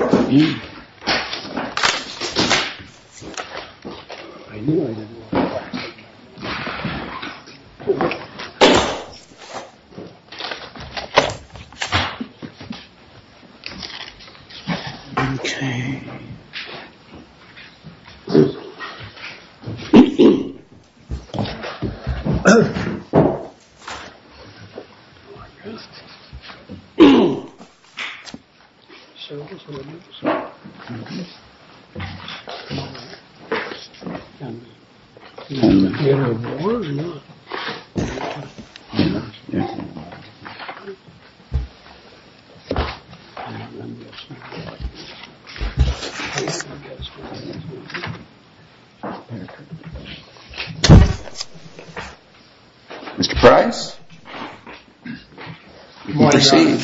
I need you. Sorry for the background noise. Ok! Ok. Do you want to rest? What's wrong? Ok. Do you want to hear more or not? Yeah. Good morning, Governor.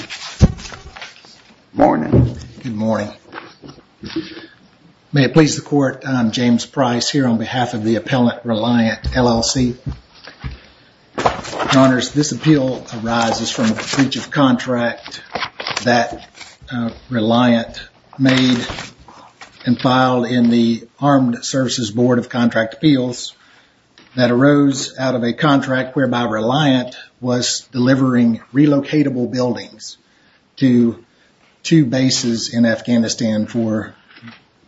Good morning. Good morning. May it please the court, I'm James Price here on behalf of the appellant Reliant LLC. Your honors, this appeal arises from a breach of contract that Reliant made and filed in the Armed Services Board of Contract Appeals that arose out of a contract whereby Reliant was delivering relocatable buildings to two bases in Afghanistan for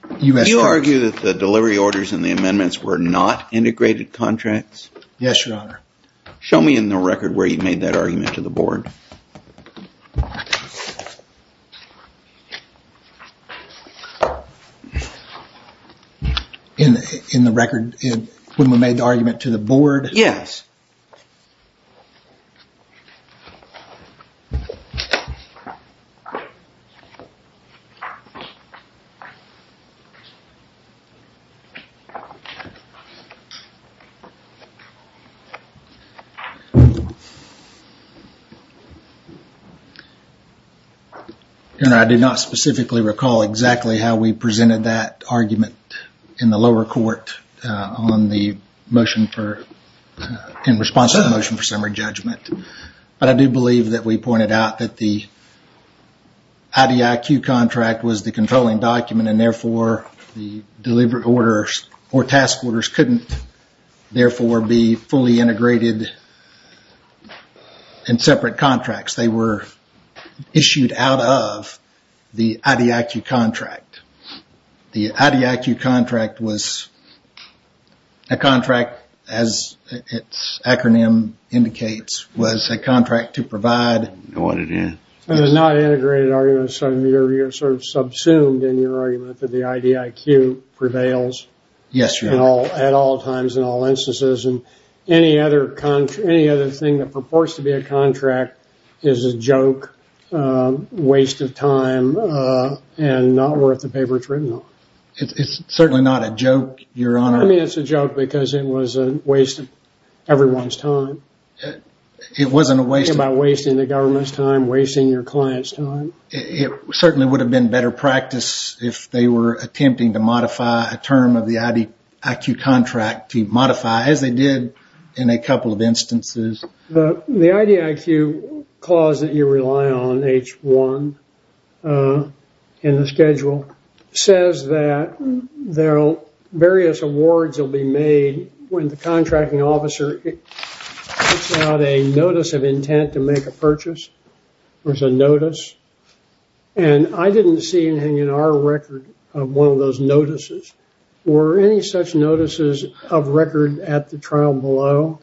U.S. troops. Do you argue that the delivery orders and the amendments were not integrated contracts? Yes, your honor. Show me in the record where you made that argument to the board. In the record when we made the argument to the board? Yes. Your honor, I do not specifically recall exactly how we presented that argument in the lower court in response to the motion for summary judgment. But I do believe that we pointed out that the IDIQ contract was the controlling document and therefore the delivery orders or task orders couldn't therefore be fully integrated and separate contracts. They were issued out of the IDIQ contract. The IDIQ contract was a contract, as its acronym indicates, was a contract to provide. It was not an integrated argument. You're sort of subsumed in your argument that the IDIQ prevails. Yes, your honor. At all times and all instances. Any other thing that purports to be a contract is a joke, waste of time, and not worth the paper it's written on. It's certainly not a joke, your honor. I mean it's a joke because it was a waste of everyone's time. It wasn't a waste of time. You're talking about wasting the government's time, wasting your client's time. It certainly would have been better practice if they were attempting to modify a term of the IDIQ contract to modify, as they did in a couple of instances. The IDIQ clause that you rely on, H1, in the schedule, says that various awards will be made when the contracting officer puts out a notice of intent to make a purchase. There's a notice. And I didn't see anything in our record of one of those notices. Were any such notices of record at the trial below?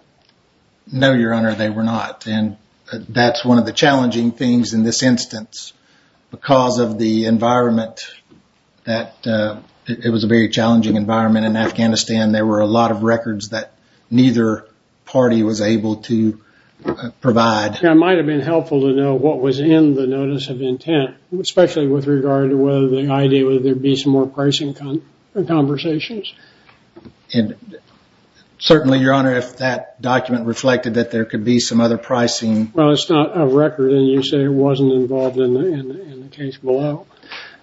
No, your honor, they were not. And that's one of the challenging things in this instance. Because of the environment, it was a very challenging environment in Afghanistan. There were a lot of records that neither party was able to provide. It might have been helpful to know what was in the notice of intent, especially with regard to whether the IDIQ would be some more pricing conversations. Certainly, your honor, if that document reflected that there could be some other pricing. Well, it's not a record and you say it wasn't involved in the case below.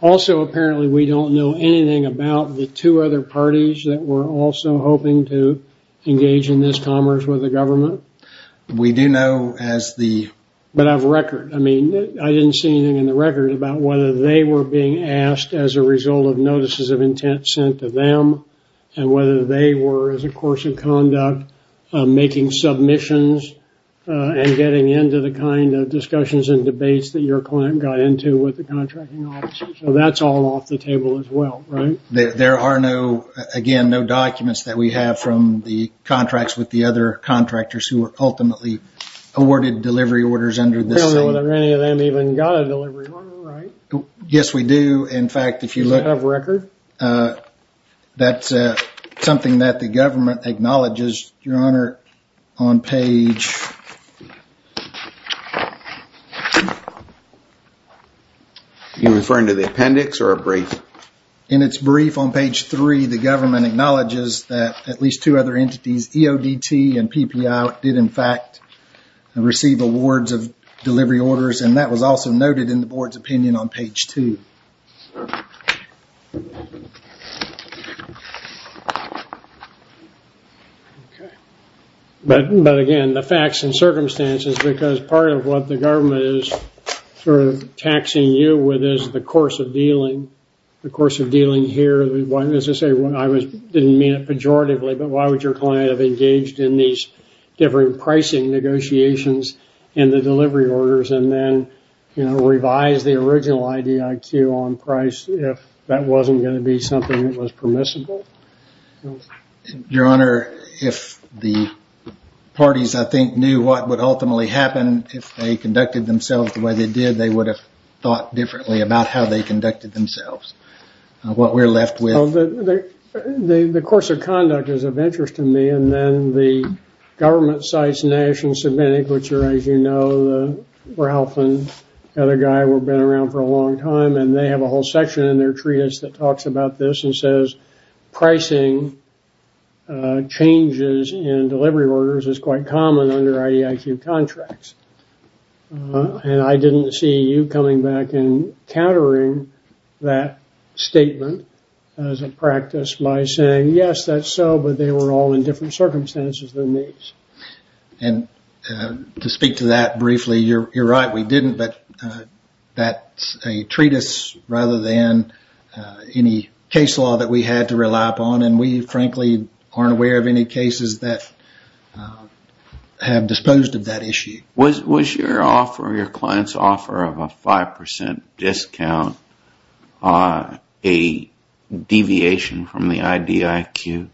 Also, apparently, we don't know anything about the two other parties that were also hoping to engage in this commerce with the government. We do know as the... But I have a record. I mean, I didn't see anything in the record about whether they were being asked as a result of notices of intent sent to them and whether they were, as a course of conduct, making submissions and getting into the kind of discussions and debates that your client got into with the contracting officer. So that's all off the table as well, right? There are no... Again, no documents that we have from the contracts with the other contractors who were ultimately awarded delivery orders under the same... We don't know whether any of them even got a delivery order, right? Yes, we do. In fact, if you look... Does it have a record? That's something that the government acknowledges, Your Honor, on page... You're referring to the appendix or a brief? In its brief on page 3, the government acknowledges that at least two other entities, EODT and PPI, did in fact receive awards of delivery orders and that was also noted in the board's opinion on page 2. Okay. But again, the facts and circumstances, because part of what the government is sort of taxing you with is the course of dealing. The course of dealing here... I didn't mean it pejoratively, but why would your client have engaged in these different pricing negotiations and the delivery orders and then, you know, to be something that was permissible? Your Honor, if the parties, I think, knew what would ultimately happen, if they conducted themselves the way they did, they would have thought differently about how they conducted themselves. What we're left with... The course of conduct is of interest to me and then the government cites Nash and Savinic, which are, as you know, Ralph and the other guy who have been around for a long time, and they have a whole section in their treatise that talks about this and says, pricing changes in delivery orders is quite common under IDIQ contracts. And I didn't see you coming back and countering that statement as a practice by saying, yes, that's so, but they were all in different circumstances than these. And to speak to that briefly, you're right. We didn't, but that's a treatise rather than any case law that we had to rely upon, and we frankly aren't aware of any cases that have disposed of that issue. Was your offer, your client's offer of a 5% discount a deviation from the IDIQ?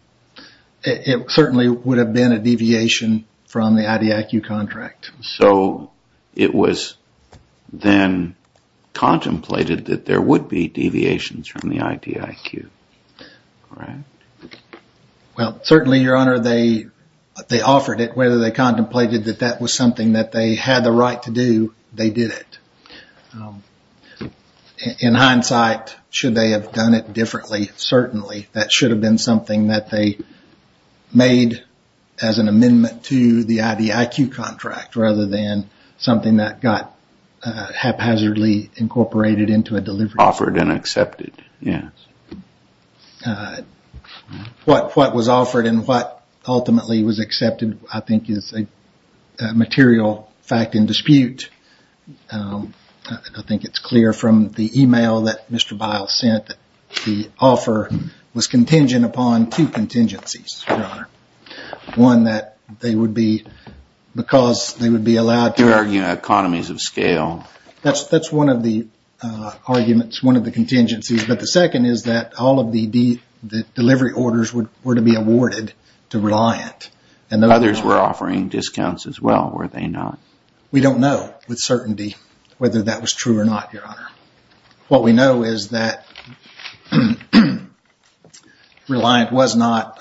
It certainly would have been a deviation from the IDIQ contract. So it was then contemplated that there would be deviations from the IDIQ, right? Well, certainly, Your Honor, they offered it. Whether they contemplated that that was something that they had the right to do, they did it. In hindsight, should they have done it differently? Certainly, that should have been something that they made as an amendment to the IDIQ contract rather than something that got haphazardly incorporated into a delivery order. Offered and accepted, yes. What was offered and what ultimately was accepted I think is a material fact in dispute. I think it's clear from the email that Mr. Biles sent that the offer was contingent upon two contingencies, Your Honor. One that they would be, because they would be allowed to... You're arguing economies of scale. That's one of the arguments, one of the contingencies, but the second is that all of the delivery orders were to be awarded to Reliant. Others were offering discounts as well, were they not? We don't know with certainty whether that was true or not, Your Honor. What we know is that Reliant was not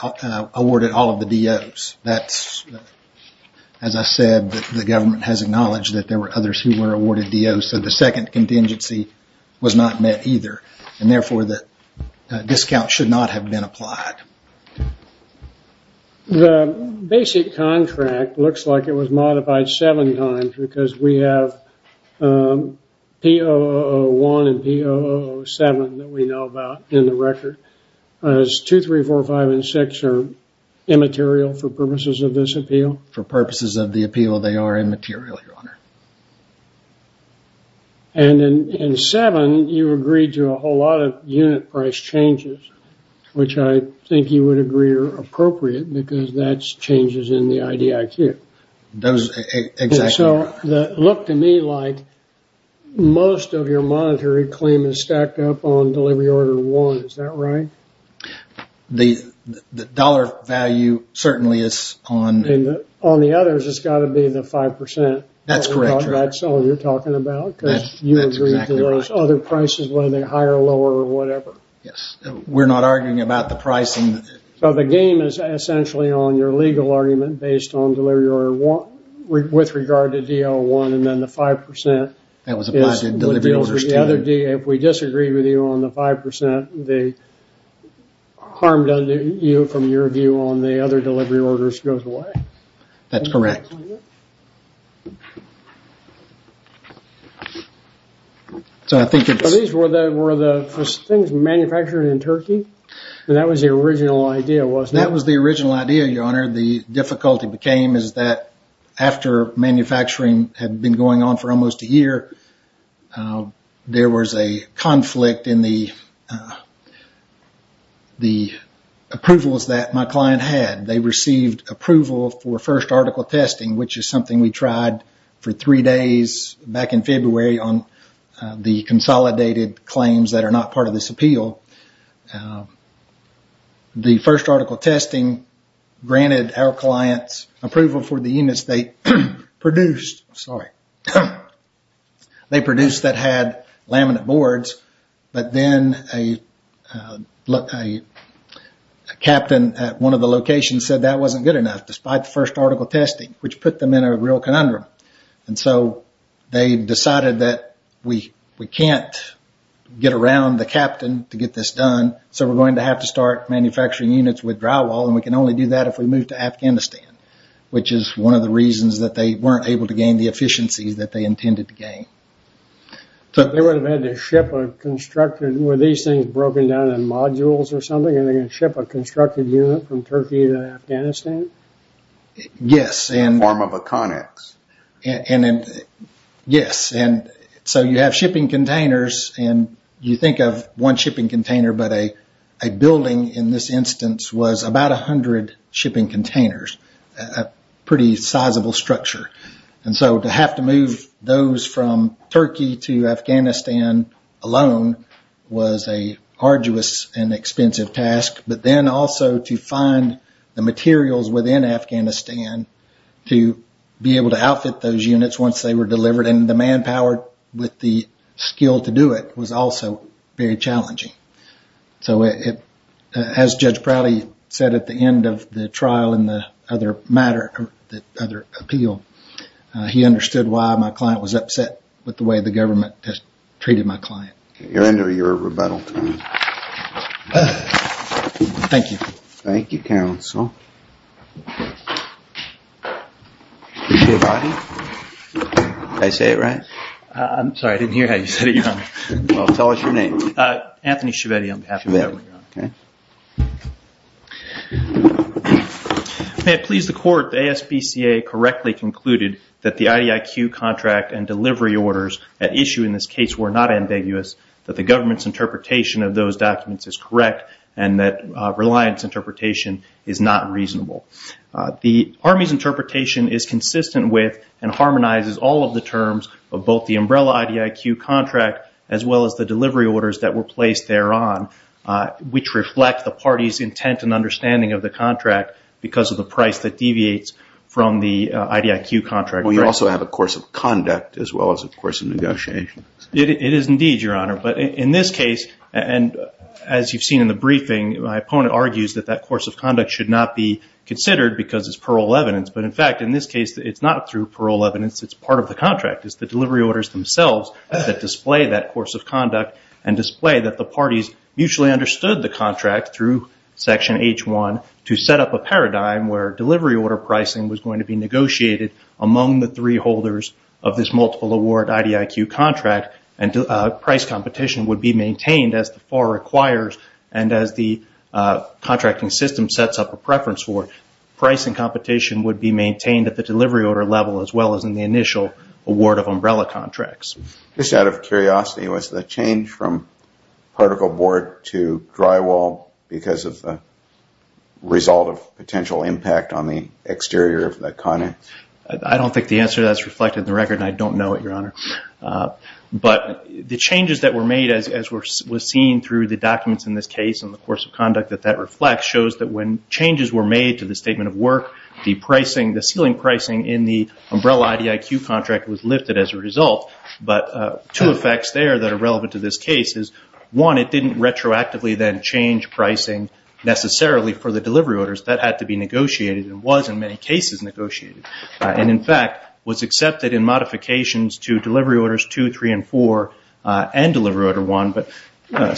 awarded all of the DOs. As I said, the government has acknowledged that there were others who were awarded DOs, so the second contingency was not met either, and therefore the discount should not have been applied. The basic contract looks like it was modified seven times because we have POO1 and POO7 that we know about in the record. Is 2, 3, 4, 5, and 6 immaterial for purposes of this appeal? For purposes of the appeal, they are immaterial, Your Honor. And in 7, you agreed to a whole lot of unit price changes, which I think you would agree are appropriate because that's changes in the IDIQ. Exactly. So it looked to me like most of your monetary claim is stacked up on delivery order one. Is that right? The dollar value certainly is on— On the others, it's got to be the 5%. That's correct, Your Honor. That's all you're talking about because you agreed to those other prices, whether they're higher, lower, or whatever. Yes, we're not arguing about the pricing. So the game is essentially on your legal argument based on delivery order one with regard to DL1 and then the 5%. That was applied to delivery orders too. If we disagree with you on the 5%, the harm done to you from your view on the other delivery orders goes away. That's correct. So I think it's— So these were the things manufactured in Turkey? And that was the original idea, wasn't it? That was the original idea, Your Honor. The difficulty became is that after manufacturing had been going on for almost a year, there was a conflict in the approvals that my client had. They received approval for first article testing, which is something we tried for three days back in February on the consolidated claims that are not part of this appeal. The first article testing granted our client's approval for the units they produced. Sorry. They produced that had laminate boards, but then a captain at one of the locations said that wasn't good enough despite the first article testing, which put them in a real conundrum. And so they decided that we can't get around the captain to get this done, so we're going to have to start manufacturing units with drywall, and we can only do that if we move to Afghanistan, which is one of the reasons that they weren't able to gain the efficiencies that they intended to gain. They would have had to ship a constructed—were these things broken down in modules or something, and they're going to ship a constructed unit from Turkey to Afghanistan? Yes. In the form of a connex. Yes. So you have shipping containers, and you think of one shipping container, but a building in this instance was about 100 shipping containers, a pretty sizable structure. And so to have to move those from Turkey to Afghanistan alone was an arduous and expensive task, but then also to find the materials within Afghanistan to be able to outfit those units once they were delivered, and the manpower with the skill to do it was also very challenging. So as Judge Prouty said at the end of the trial in the other matter, the other appeal, he understood why my client was upset with the way the government has treated my client. You're into your rebuttal time. Thank you. Thank you, counsel. Mr. Chiavatti? Did I say it right? I'm sorry. I didn't hear how you said it, Your Honor. Well, tell us your name. Anthony Chiavetti on behalf of the family, Your Honor. Okay. May it please the Court, the ASBCA correctly concluded that the IDIQ contract and delivery orders at issue in this case were not ambiguous, that the government's interpretation of those documents is correct, and that Reliant's interpretation is not reasonable. The Army's interpretation is consistent with and harmonizes all of the terms of both the umbrella IDIQ contract as well as the delivery orders that were placed thereon, which reflect the party's intent and understanding of the contract because of the price that deviates from the IDIQ contract. Well, you also have a course of conduct as well as a course of negotiations. It is indeed, Your Honor. But in this case, and as you've seen in the briefing, my opponent argues that that course of conduct should not be considered because it's parole evidence. But, in fact, in this case, it's not through parole evidence. It's part of the contract. It's the delivery orders themselves that display that course of conduct and display that the parties mutually understood the contract through Section H1 to set up a paradigm where delivery order pricing was going to be negotiated among the three holders of this multiple award IDIQ contract and price competition would be maintained as the FAR requires and as the contracting system sets up a preference for it. Pricing competition would be maintained at the delivery order level as well as in the initial award of umbrella contracts. Just out of curiosity, was the change from particle board to drywall because of the result of potential impact on the exterior of the content? I don't think the answer to that is reflected in the record, and I don't know it, Your Honor. But the changes that were made, as was seen through the documents in this case and the course of conduct that that reflects, shows that when changes were made to the statement of work, the ceiling pricing in the umbrella IDIQ contract was lifted as a result. But two effects there that are relevant to this case is, one, it didn't retroactively then change pricing necessarily for the delivery orders. That had to be negotiated and was in many cases negotiated. And, in fact, was accepted in modifications to delivery orders 2, 3, and 4 and delivery order 1. But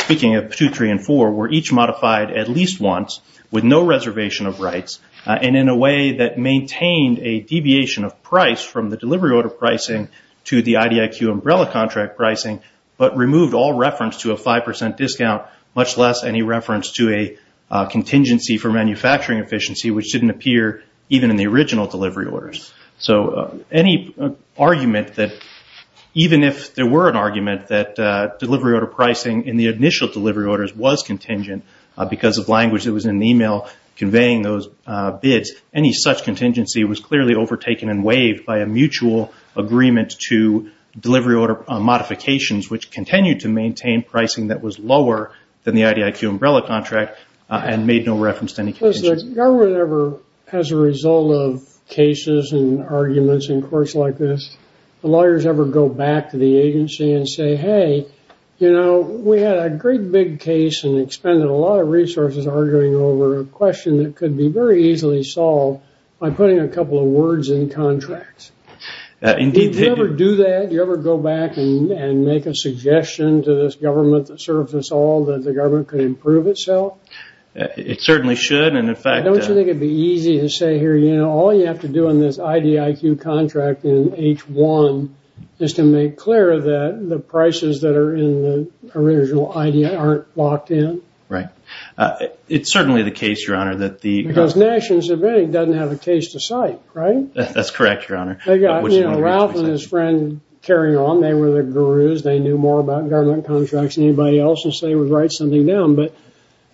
speaking of 2, 3, and 4, were each modified at least once with no reservation of rights and in a way that maintained a deviation of price from the delivery order pricing to the IDIQ umbrella contract pricing but removed all reference to a 5% discount, much less any reference to a contingency for manufacturing efficiency, which didn't appear even in the original delivery orders. So any argument that, even if there were an argument that delivery order pricing in the initial delivery orders was contingent because of language that was in the email conveying those bids, any such contingency was clearly overtaken and waived by a mutual agreement to delivery order modifications, which continued to maintain pricing that was lower than the IDIQ umbrella contract and made no reference to any contingency. Was the government ever, as a result of cases and arguments in courts like this, the lawyers ever go back to the agency and say, hey, you know, we had a great big case and expended a lot of resources arguing over a question that could be very easily solved by putting a couple of words in contracts? Do you ever do that? Do you ever go back and make a suggestion to this government that serves us all that the government could improve itself? It certainly should. Don't you think it would be easy to say here, you know, all you have to do on this IDIQ contract in H1 is to make clear that the prices that are in the original IDIQ aren't locked in? Right. It's certainly the case, Your Honor, that the – Because National Civics doesn't have a case to cite, right? That's correct, Your Honor. They got Ralph and his friend carrying on. They were the gurus. They knew more about government contracts than anybody else, and so they would write something down. But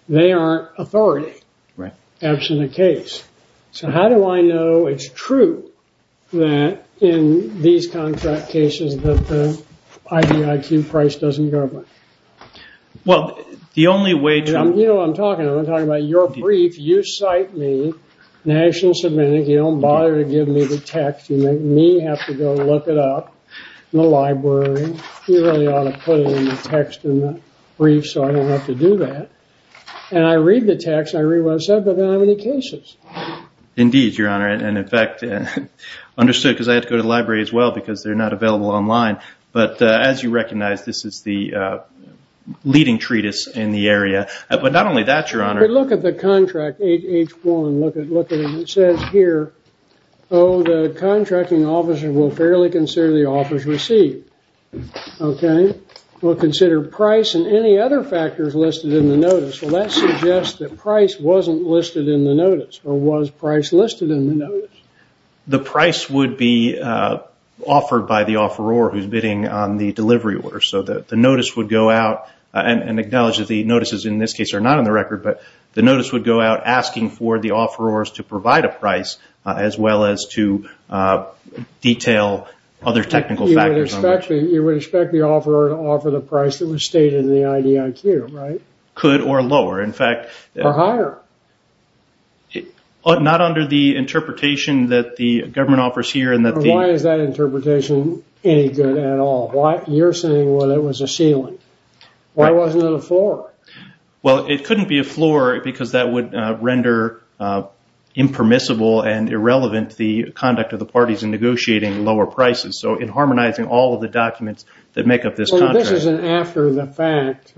they aren't authority. Right. Absent a case. So how do I know it's true that in these contract cases that the IDIQ price doesn't go up? Well, the only way to – You know what I'm talking about. I'm talking about your brief. You cite me, National Civics. You don't bother to give me the text. You make me have to go look it up in the library. You really ought to put it in the text in the brief so I don't have to do that. And I read the text, and I read what it said, but I don't have any cases. Indeed, Your Honor. And, in fact, understood because I had to go to the library as well because they're not available online. But as you recognize, this is the leading treatise in the area. But not only that, Your Honor. But look at the contract, H1. Look at it. It says here, oh, the contracting officer will fairly consider the offers received. Okay. We'll consider price and any other factors listed in the notice. Well, that suggests that price wasn't listed in the notice or was price listed in the notice. The price would be offered by the offeror who's bidding on the delivery order. So the notice would go out and acknowledge that the notices in this case are not on the record, but the notice would go out asking for the offerors to provide a price as well as to detail other technical factors. You would expect the offeror to offer the price that was stated in the IDIQ, right? Could or lower. In fact. Or higher. Not under the interpretation that the government offers here. Why is that interpretation any good at all? You're saying, well, it was a ceiling. Why wasn't it a floor? Well, it couldn't be a floor because that would render impermissible and irrelevant the conduct of the parties in negotiating lower prices. So in harmonizing all of the documents that make up this contract. This is an after the fact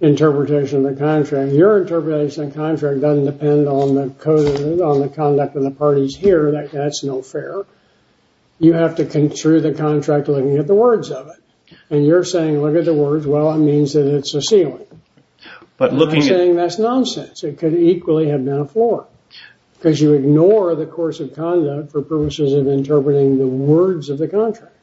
interpretation of the contract. Your interpretation of the contract doesn't depend on the conduct of the parties here. That's no fair. You have to construe the contract looking at the words of it. And you're saying, look at the words. Well, it means that it's a ceiling. I'm not saying that's nonsense. It could equally have been a floor. Because you ignore the course of conduct for purposes of interpreting the words of the contract.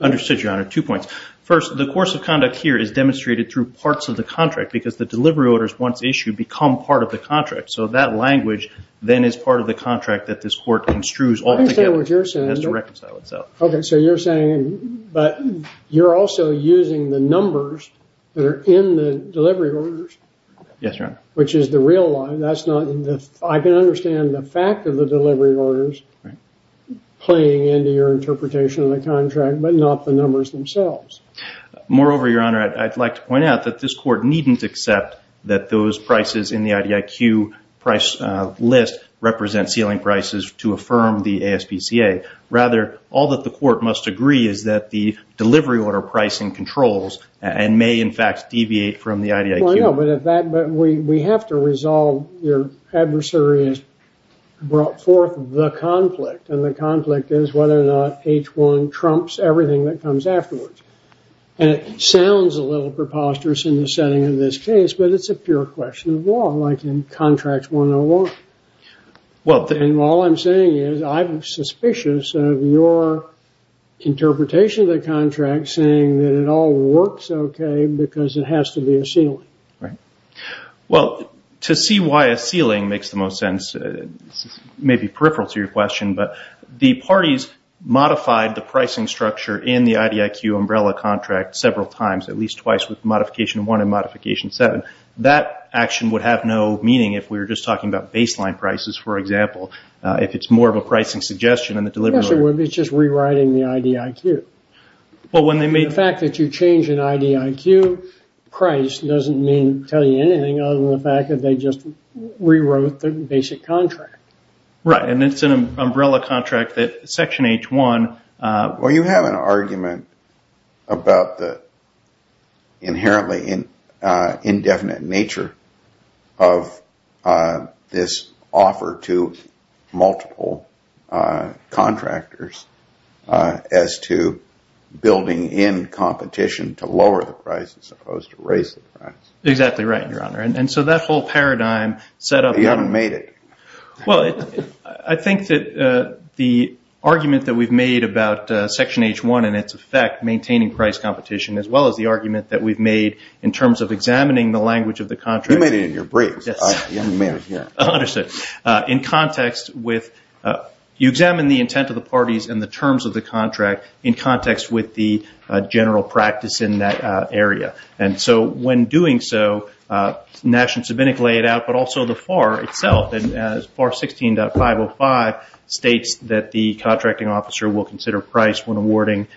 Understood, Your Honor. Two points. First, the course of conduct here is demonstrated through parts of the contract because the delivery orders once issued become part of the contract. So that language then is part of the contract that this court construes altogether. I understand what you're saying. It has to reconcile itself. Okay, so you're saying, but you're also using the numbers that are in the delivery orders. Yes, Your Honor. Which is the real line. I can understand the fact of the delivery orders playing into your interpretation of the contract, but not the numbers themselves. Moreover, Your Honor, I'd like to point out that this court needn't accept that those prices in the IDIQ price list represent ceiling prices to affirm the ASPCA. Rather, all that the court must agree is that the delivery order pricing controls and may, in fact, deviate from the IDIQ. Well, I know, but we have to resolve your adversary has brought forth the conflict. And the conflict is whether or not H1 trumps everything that comes afterwards. And it sounds a little preposterous in the setting of this case, but it's a pure question of law, like in Contract 101. And all I'm saying is I'm suspicious of your interpretation of the contract, saying that it all works okay because it has to be a ceiling. Right. Well, to see why a ceiling makes the most sense may be peripheral to your question, but the parties modified the pricing structure in the IDIQ umbrella contract several times, at least twice, with Modification 1 and Modification 7. That action would have no meaning if we were just talking about baseline prices, for example, if it's more of a pricing suggestion in the delivery order. It's just rewriting the IDIQ. The fact that you change an IDIQ price doesn't tell you anything other than the fact that they just rewrote the basic contract. Right. And it's an umbrella contract that Section H1… Well, you have an argument about the inherently indefinite nature of this offer to multiple contractors as to building in competition to lower the price as opposed to raise the price. Exactly right, Your Honor. And so that whole paradigm set up… You haven't made it. Well, I think that the argument that we've made about Section H1 and its effect maintaining price competition, as well as the argument that we've made in terms of examining the language of the contract… You made it in your briefs. Yes. You haven't made it yet. Understood. In context with… You examine the intent of the parties and the terms of the contract in context with the general practice in that area. And so when doing so, National Sabinic laid out, but also the FAR itself. FAR 16.505 states that the contracting officer will consider price when awarding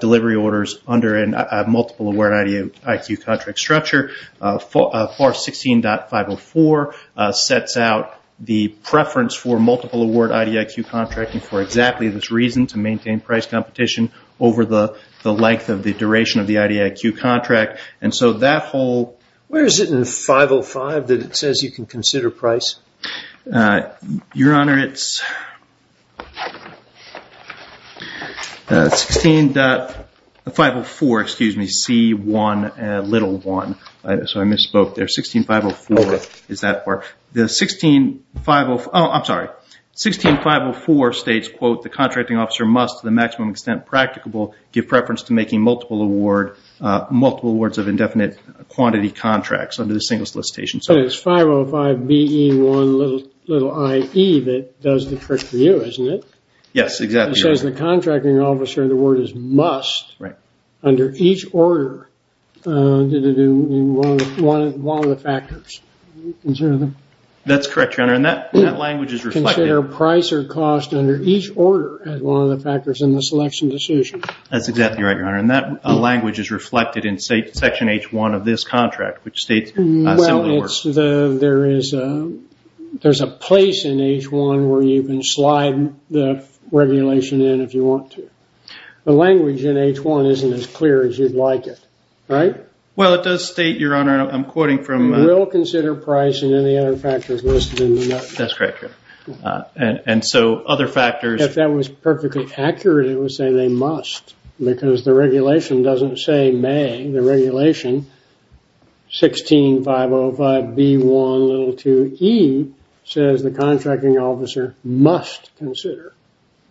delivery orders under a multiple award IDIQ contract structure. FAR 16.504 sets out the preference for multiple award IDIQ contracting for exactly this reason, to maintain price competition over the length of the duration of the IDIQ contract. And so that whole… Where is it in 505 that it says you can consider price? Your Honor, it's 16.504, excuse me, C1, little 1. So I misspoke there. 16.504 is that part. Oh, I'm sorry. 16.504 states, quote, the contracting officer must, to the maximum extent practicable, give preference to making multiple awards of indefinite quantity contracts under the single solicitation. But it's 505BE1iE that does the trick for you, isn't it? Yes, exactly. It says the contracting officer, the word is must, under each order, one of the factors. That's correct, Your Honor, and that language is reflected. Consider price or cost under each order as one of the factors in the selection decision. That's exactly right, Your Honor, and that language is reflected in Section H1 of this contract, which states a similar order. Well, there's a place in H1 where you can slide the regulation in if you want to. The language in H1 isn't as clear as you'd like it, right? Well, it does state, Your Honor, I'm quoting from… Will consider price and any other factors listed in the note. That's correct, Your Honor, and so other factors… If that was perfectly accurate, it would say they must because the regulation doesn't say may. The regulation, 16.505B1iE, says the contracting officer must consider.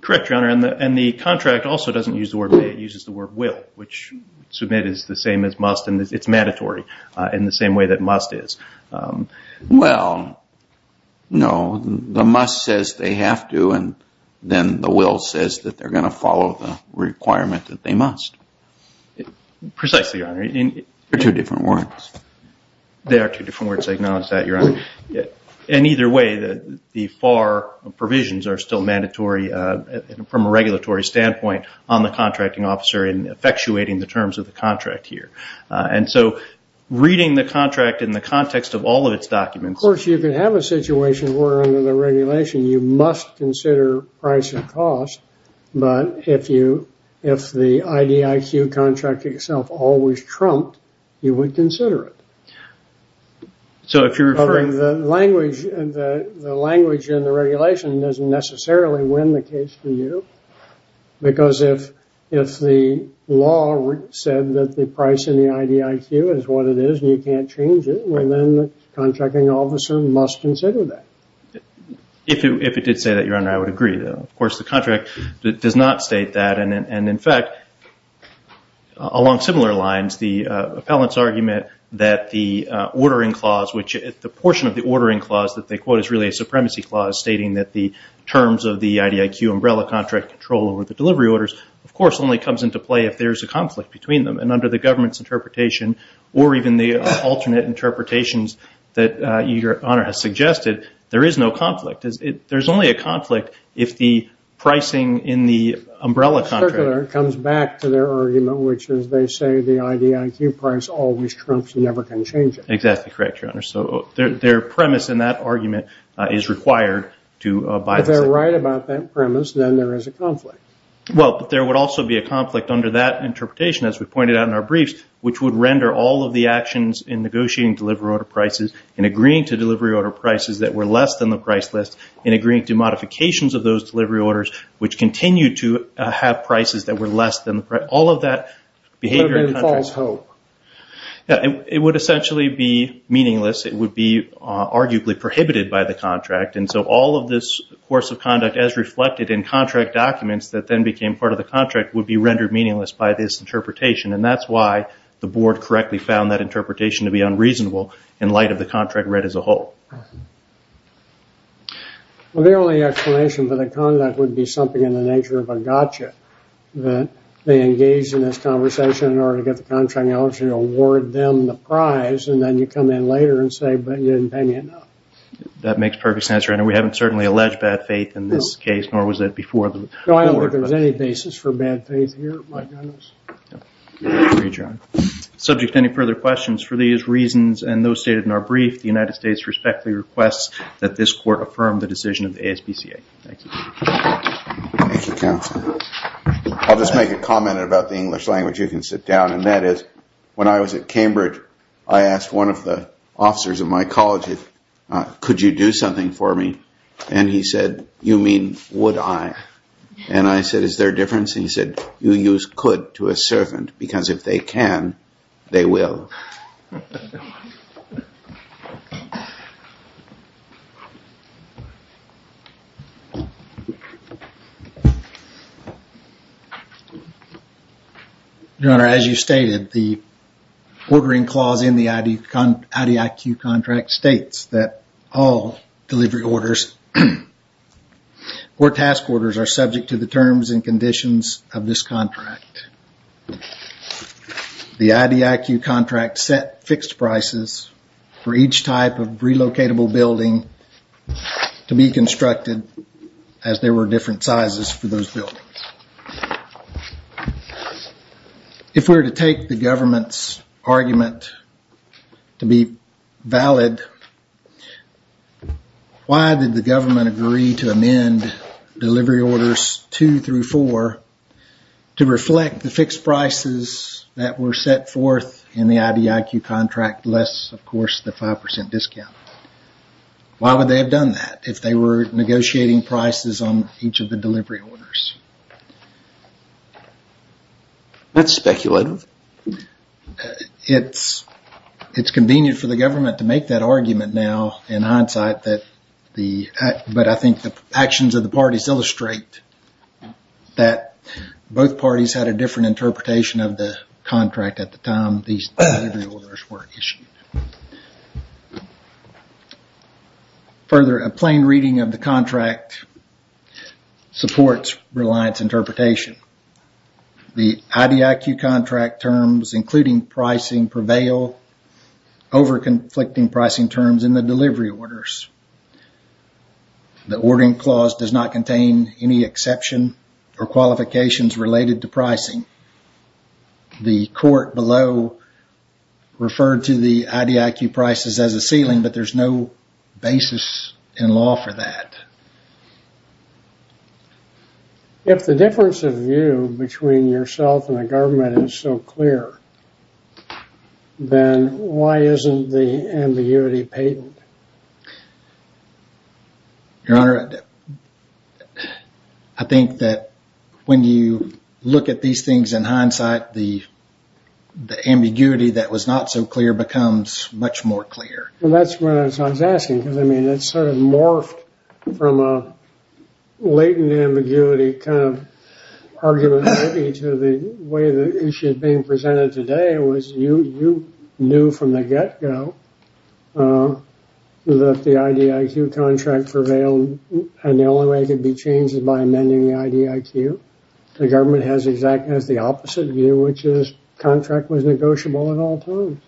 Correct, Your Honor, and the contract also doesn't use the word may. It uses the word will, which submit is the same as must, and it's mandatory in the same way that must is. Well, no, the must says they have to, and then the will says that they're going to follow the requirement that they must. Precisely, Your Honor. They're two different words. I acknowledge that, Your Honor. In either way, the FAR provisions are still mandatory from a regulatory standpoint on the contracting officer in effectuating the terms of the contract here. And so reading the contract in the context of all of its documents… Of course, you can have a situation where under the regulation you must consider price and cost, but if the IDIQ contract itself always trumped, you would consider it. So if you're referring… The language in the regulation doesn't necessarily win the case for you because if the law said that the price in the IDIQ is what it is and you can't change it, then the contracting officer must consider that. If it did say that, Your Honor, I would agree. Of course, the contract does not state that, and in fact, along similar lines, the appellant's argument that the ordering clause, which the portion of the ordering clause that they quote is really a supremacy clause, stating that the terms of the IDIQ umbrella contract control over the delivery orders, of course, only comes into play if there's a conflict between them. And under the government's interpretation or even the alternate interpretations that Your Honor has suggested, there is no conflict. There's only a conflict if the pricing in the umbrella contract… …always trumps and never can change it. Exactly correct, Your Honor. So their premise in that argument is required to abide by… If they're right about that premise, then there is a conflict. Well, but there would also be a conflict under that interpretation, as we pointed out in our briefs, which would render all of the actions in negotiating delivery order prices and agreeing to delivery order prices that were less than the price list and agreeing to modifications of those delivery orders, which continue to have prices that were less than the price. All of that behavior… Could have been false hope. It would essentially be meaningless. It would be arguably prohibited by the contract. And so all of this course of conduct as reflected in contract documents that then became part of the contract would be rendered meaningless by this interpretation. And that's why the board correctly found that interpretation to be unreasonable in light of the contract read as a whole. The only explanation for the conduct would be something in the nature of a gotcha that they engaged in this conversation in order to get the contract, in order to award them the prize, and then you come in later and say, but you didn't pay me enough. That makes perfect sense. We haven't certainly alleged bad faith in this case, nor was it before the board. I don't think there's any basis for bad faith here, my goodness. Subject to any further questions, for these reasons and those stated in our brief, the United States respectfully requests that this court affirm the decision of the ASPCA. Thank you. Thank you, counsel. I'll just make a comment about the English language. You can sit down. And that is, when I was at Cambridge, I asked one of the officers of my college, could you do something for me? And he said, you mean, would I? And I said, is there a difference? And he said, you use could to a servant, because if they can, they will. Your Honor, as you stated, the ordering clause in the IDIQ contract states that all delivery orders or task orders are subject to the terms and conditions of this contract. The IDIQ contract set fixed prices for each type of relocatable building to be constructed as there were different sizes for those buildings. If we were to take the government's argument to be valid, why did the government agree to amend delivery orders 2 through 4 to reflect the fixed prices that were set forth in the IDIQ contract, less, of course, the 5% discount? Why would they have done that if they were negotiating prices on each of the delivery orders? That's speculative. It's convenient for the government to make that argument now in hindsight, but I think the actions of the parties illustrate that both parties had a different interpretation of the contract at the time these delivery orders were issued. Further, a plain reading of the contract supports Reliance interpretation. The IDIQ contract terms, including pricing, prevail over conflicting pricing terms in the delivery orders. The ordering clause does not contain any exception or qualifications related to pricing. The court below referred to the IDIQ prices as a ceiling, but there's no basis in law for that. If the difference of view between yourself and the government is so clear, then why isn't the ambiguity patent? Your Honor, I think that when you look at these things in hindsight, the ambiguity that was not so clear becomes much more clear. Well, that's what I was asking, because it sort of morphed from a latent ambiguity kind of argument to the way the issue is being presented today was you knew from the get-go that the IDIQ contract prevailed, and the only way it could be changed is by amending the IDIQ. The government has the opposite view, which is the contract was negotiable at all times.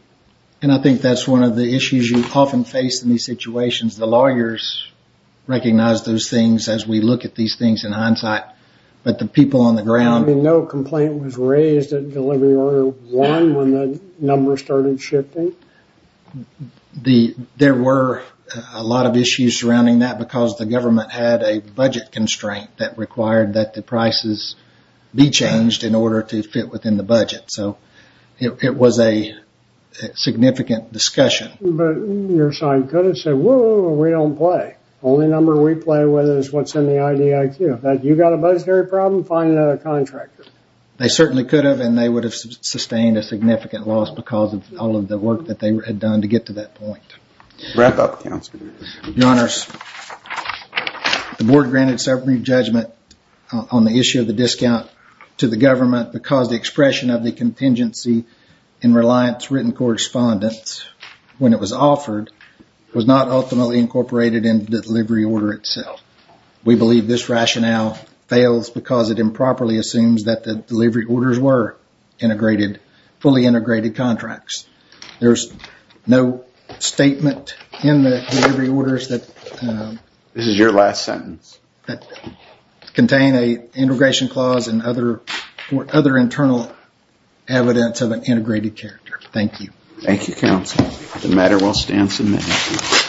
And I think that's one of the issues you often face in these situations. The lawyers recognize those things as we look at these things in hindsight, but the people on the ground... I mean, no complaint was raised at delivery order one when the numbers started shifting. There were a lot of issues surrounding that because the government had a budget constraint that required that the prices be changed in order to fit within the budget. So it was a significant discussion. But your side could have said, whoa, we don't play. The only number we play with is what's in the IDIQ. If you've got a budgetary problem, find another contractor. They certainly could have, and they would have sustained a significant loss because of all of the work that they had done to get to that point. Wrap up, Counselor. Your Honors, the board granted summary judgment on the issue of the discount to the government because the expression of the contingency in reliance written correspondence when it was offered was not ultimately incorporated in the delivery order itself. We believe this rationale fails because it improperly assumes that the delivery orders were fully integrated contracts. There's no statement in the delivery orders that... This is your last sentence. ...that contain an integration clause and other internal evidence of an integrated character. Thank you. Thank you, Counselor. The matter will stand submitted.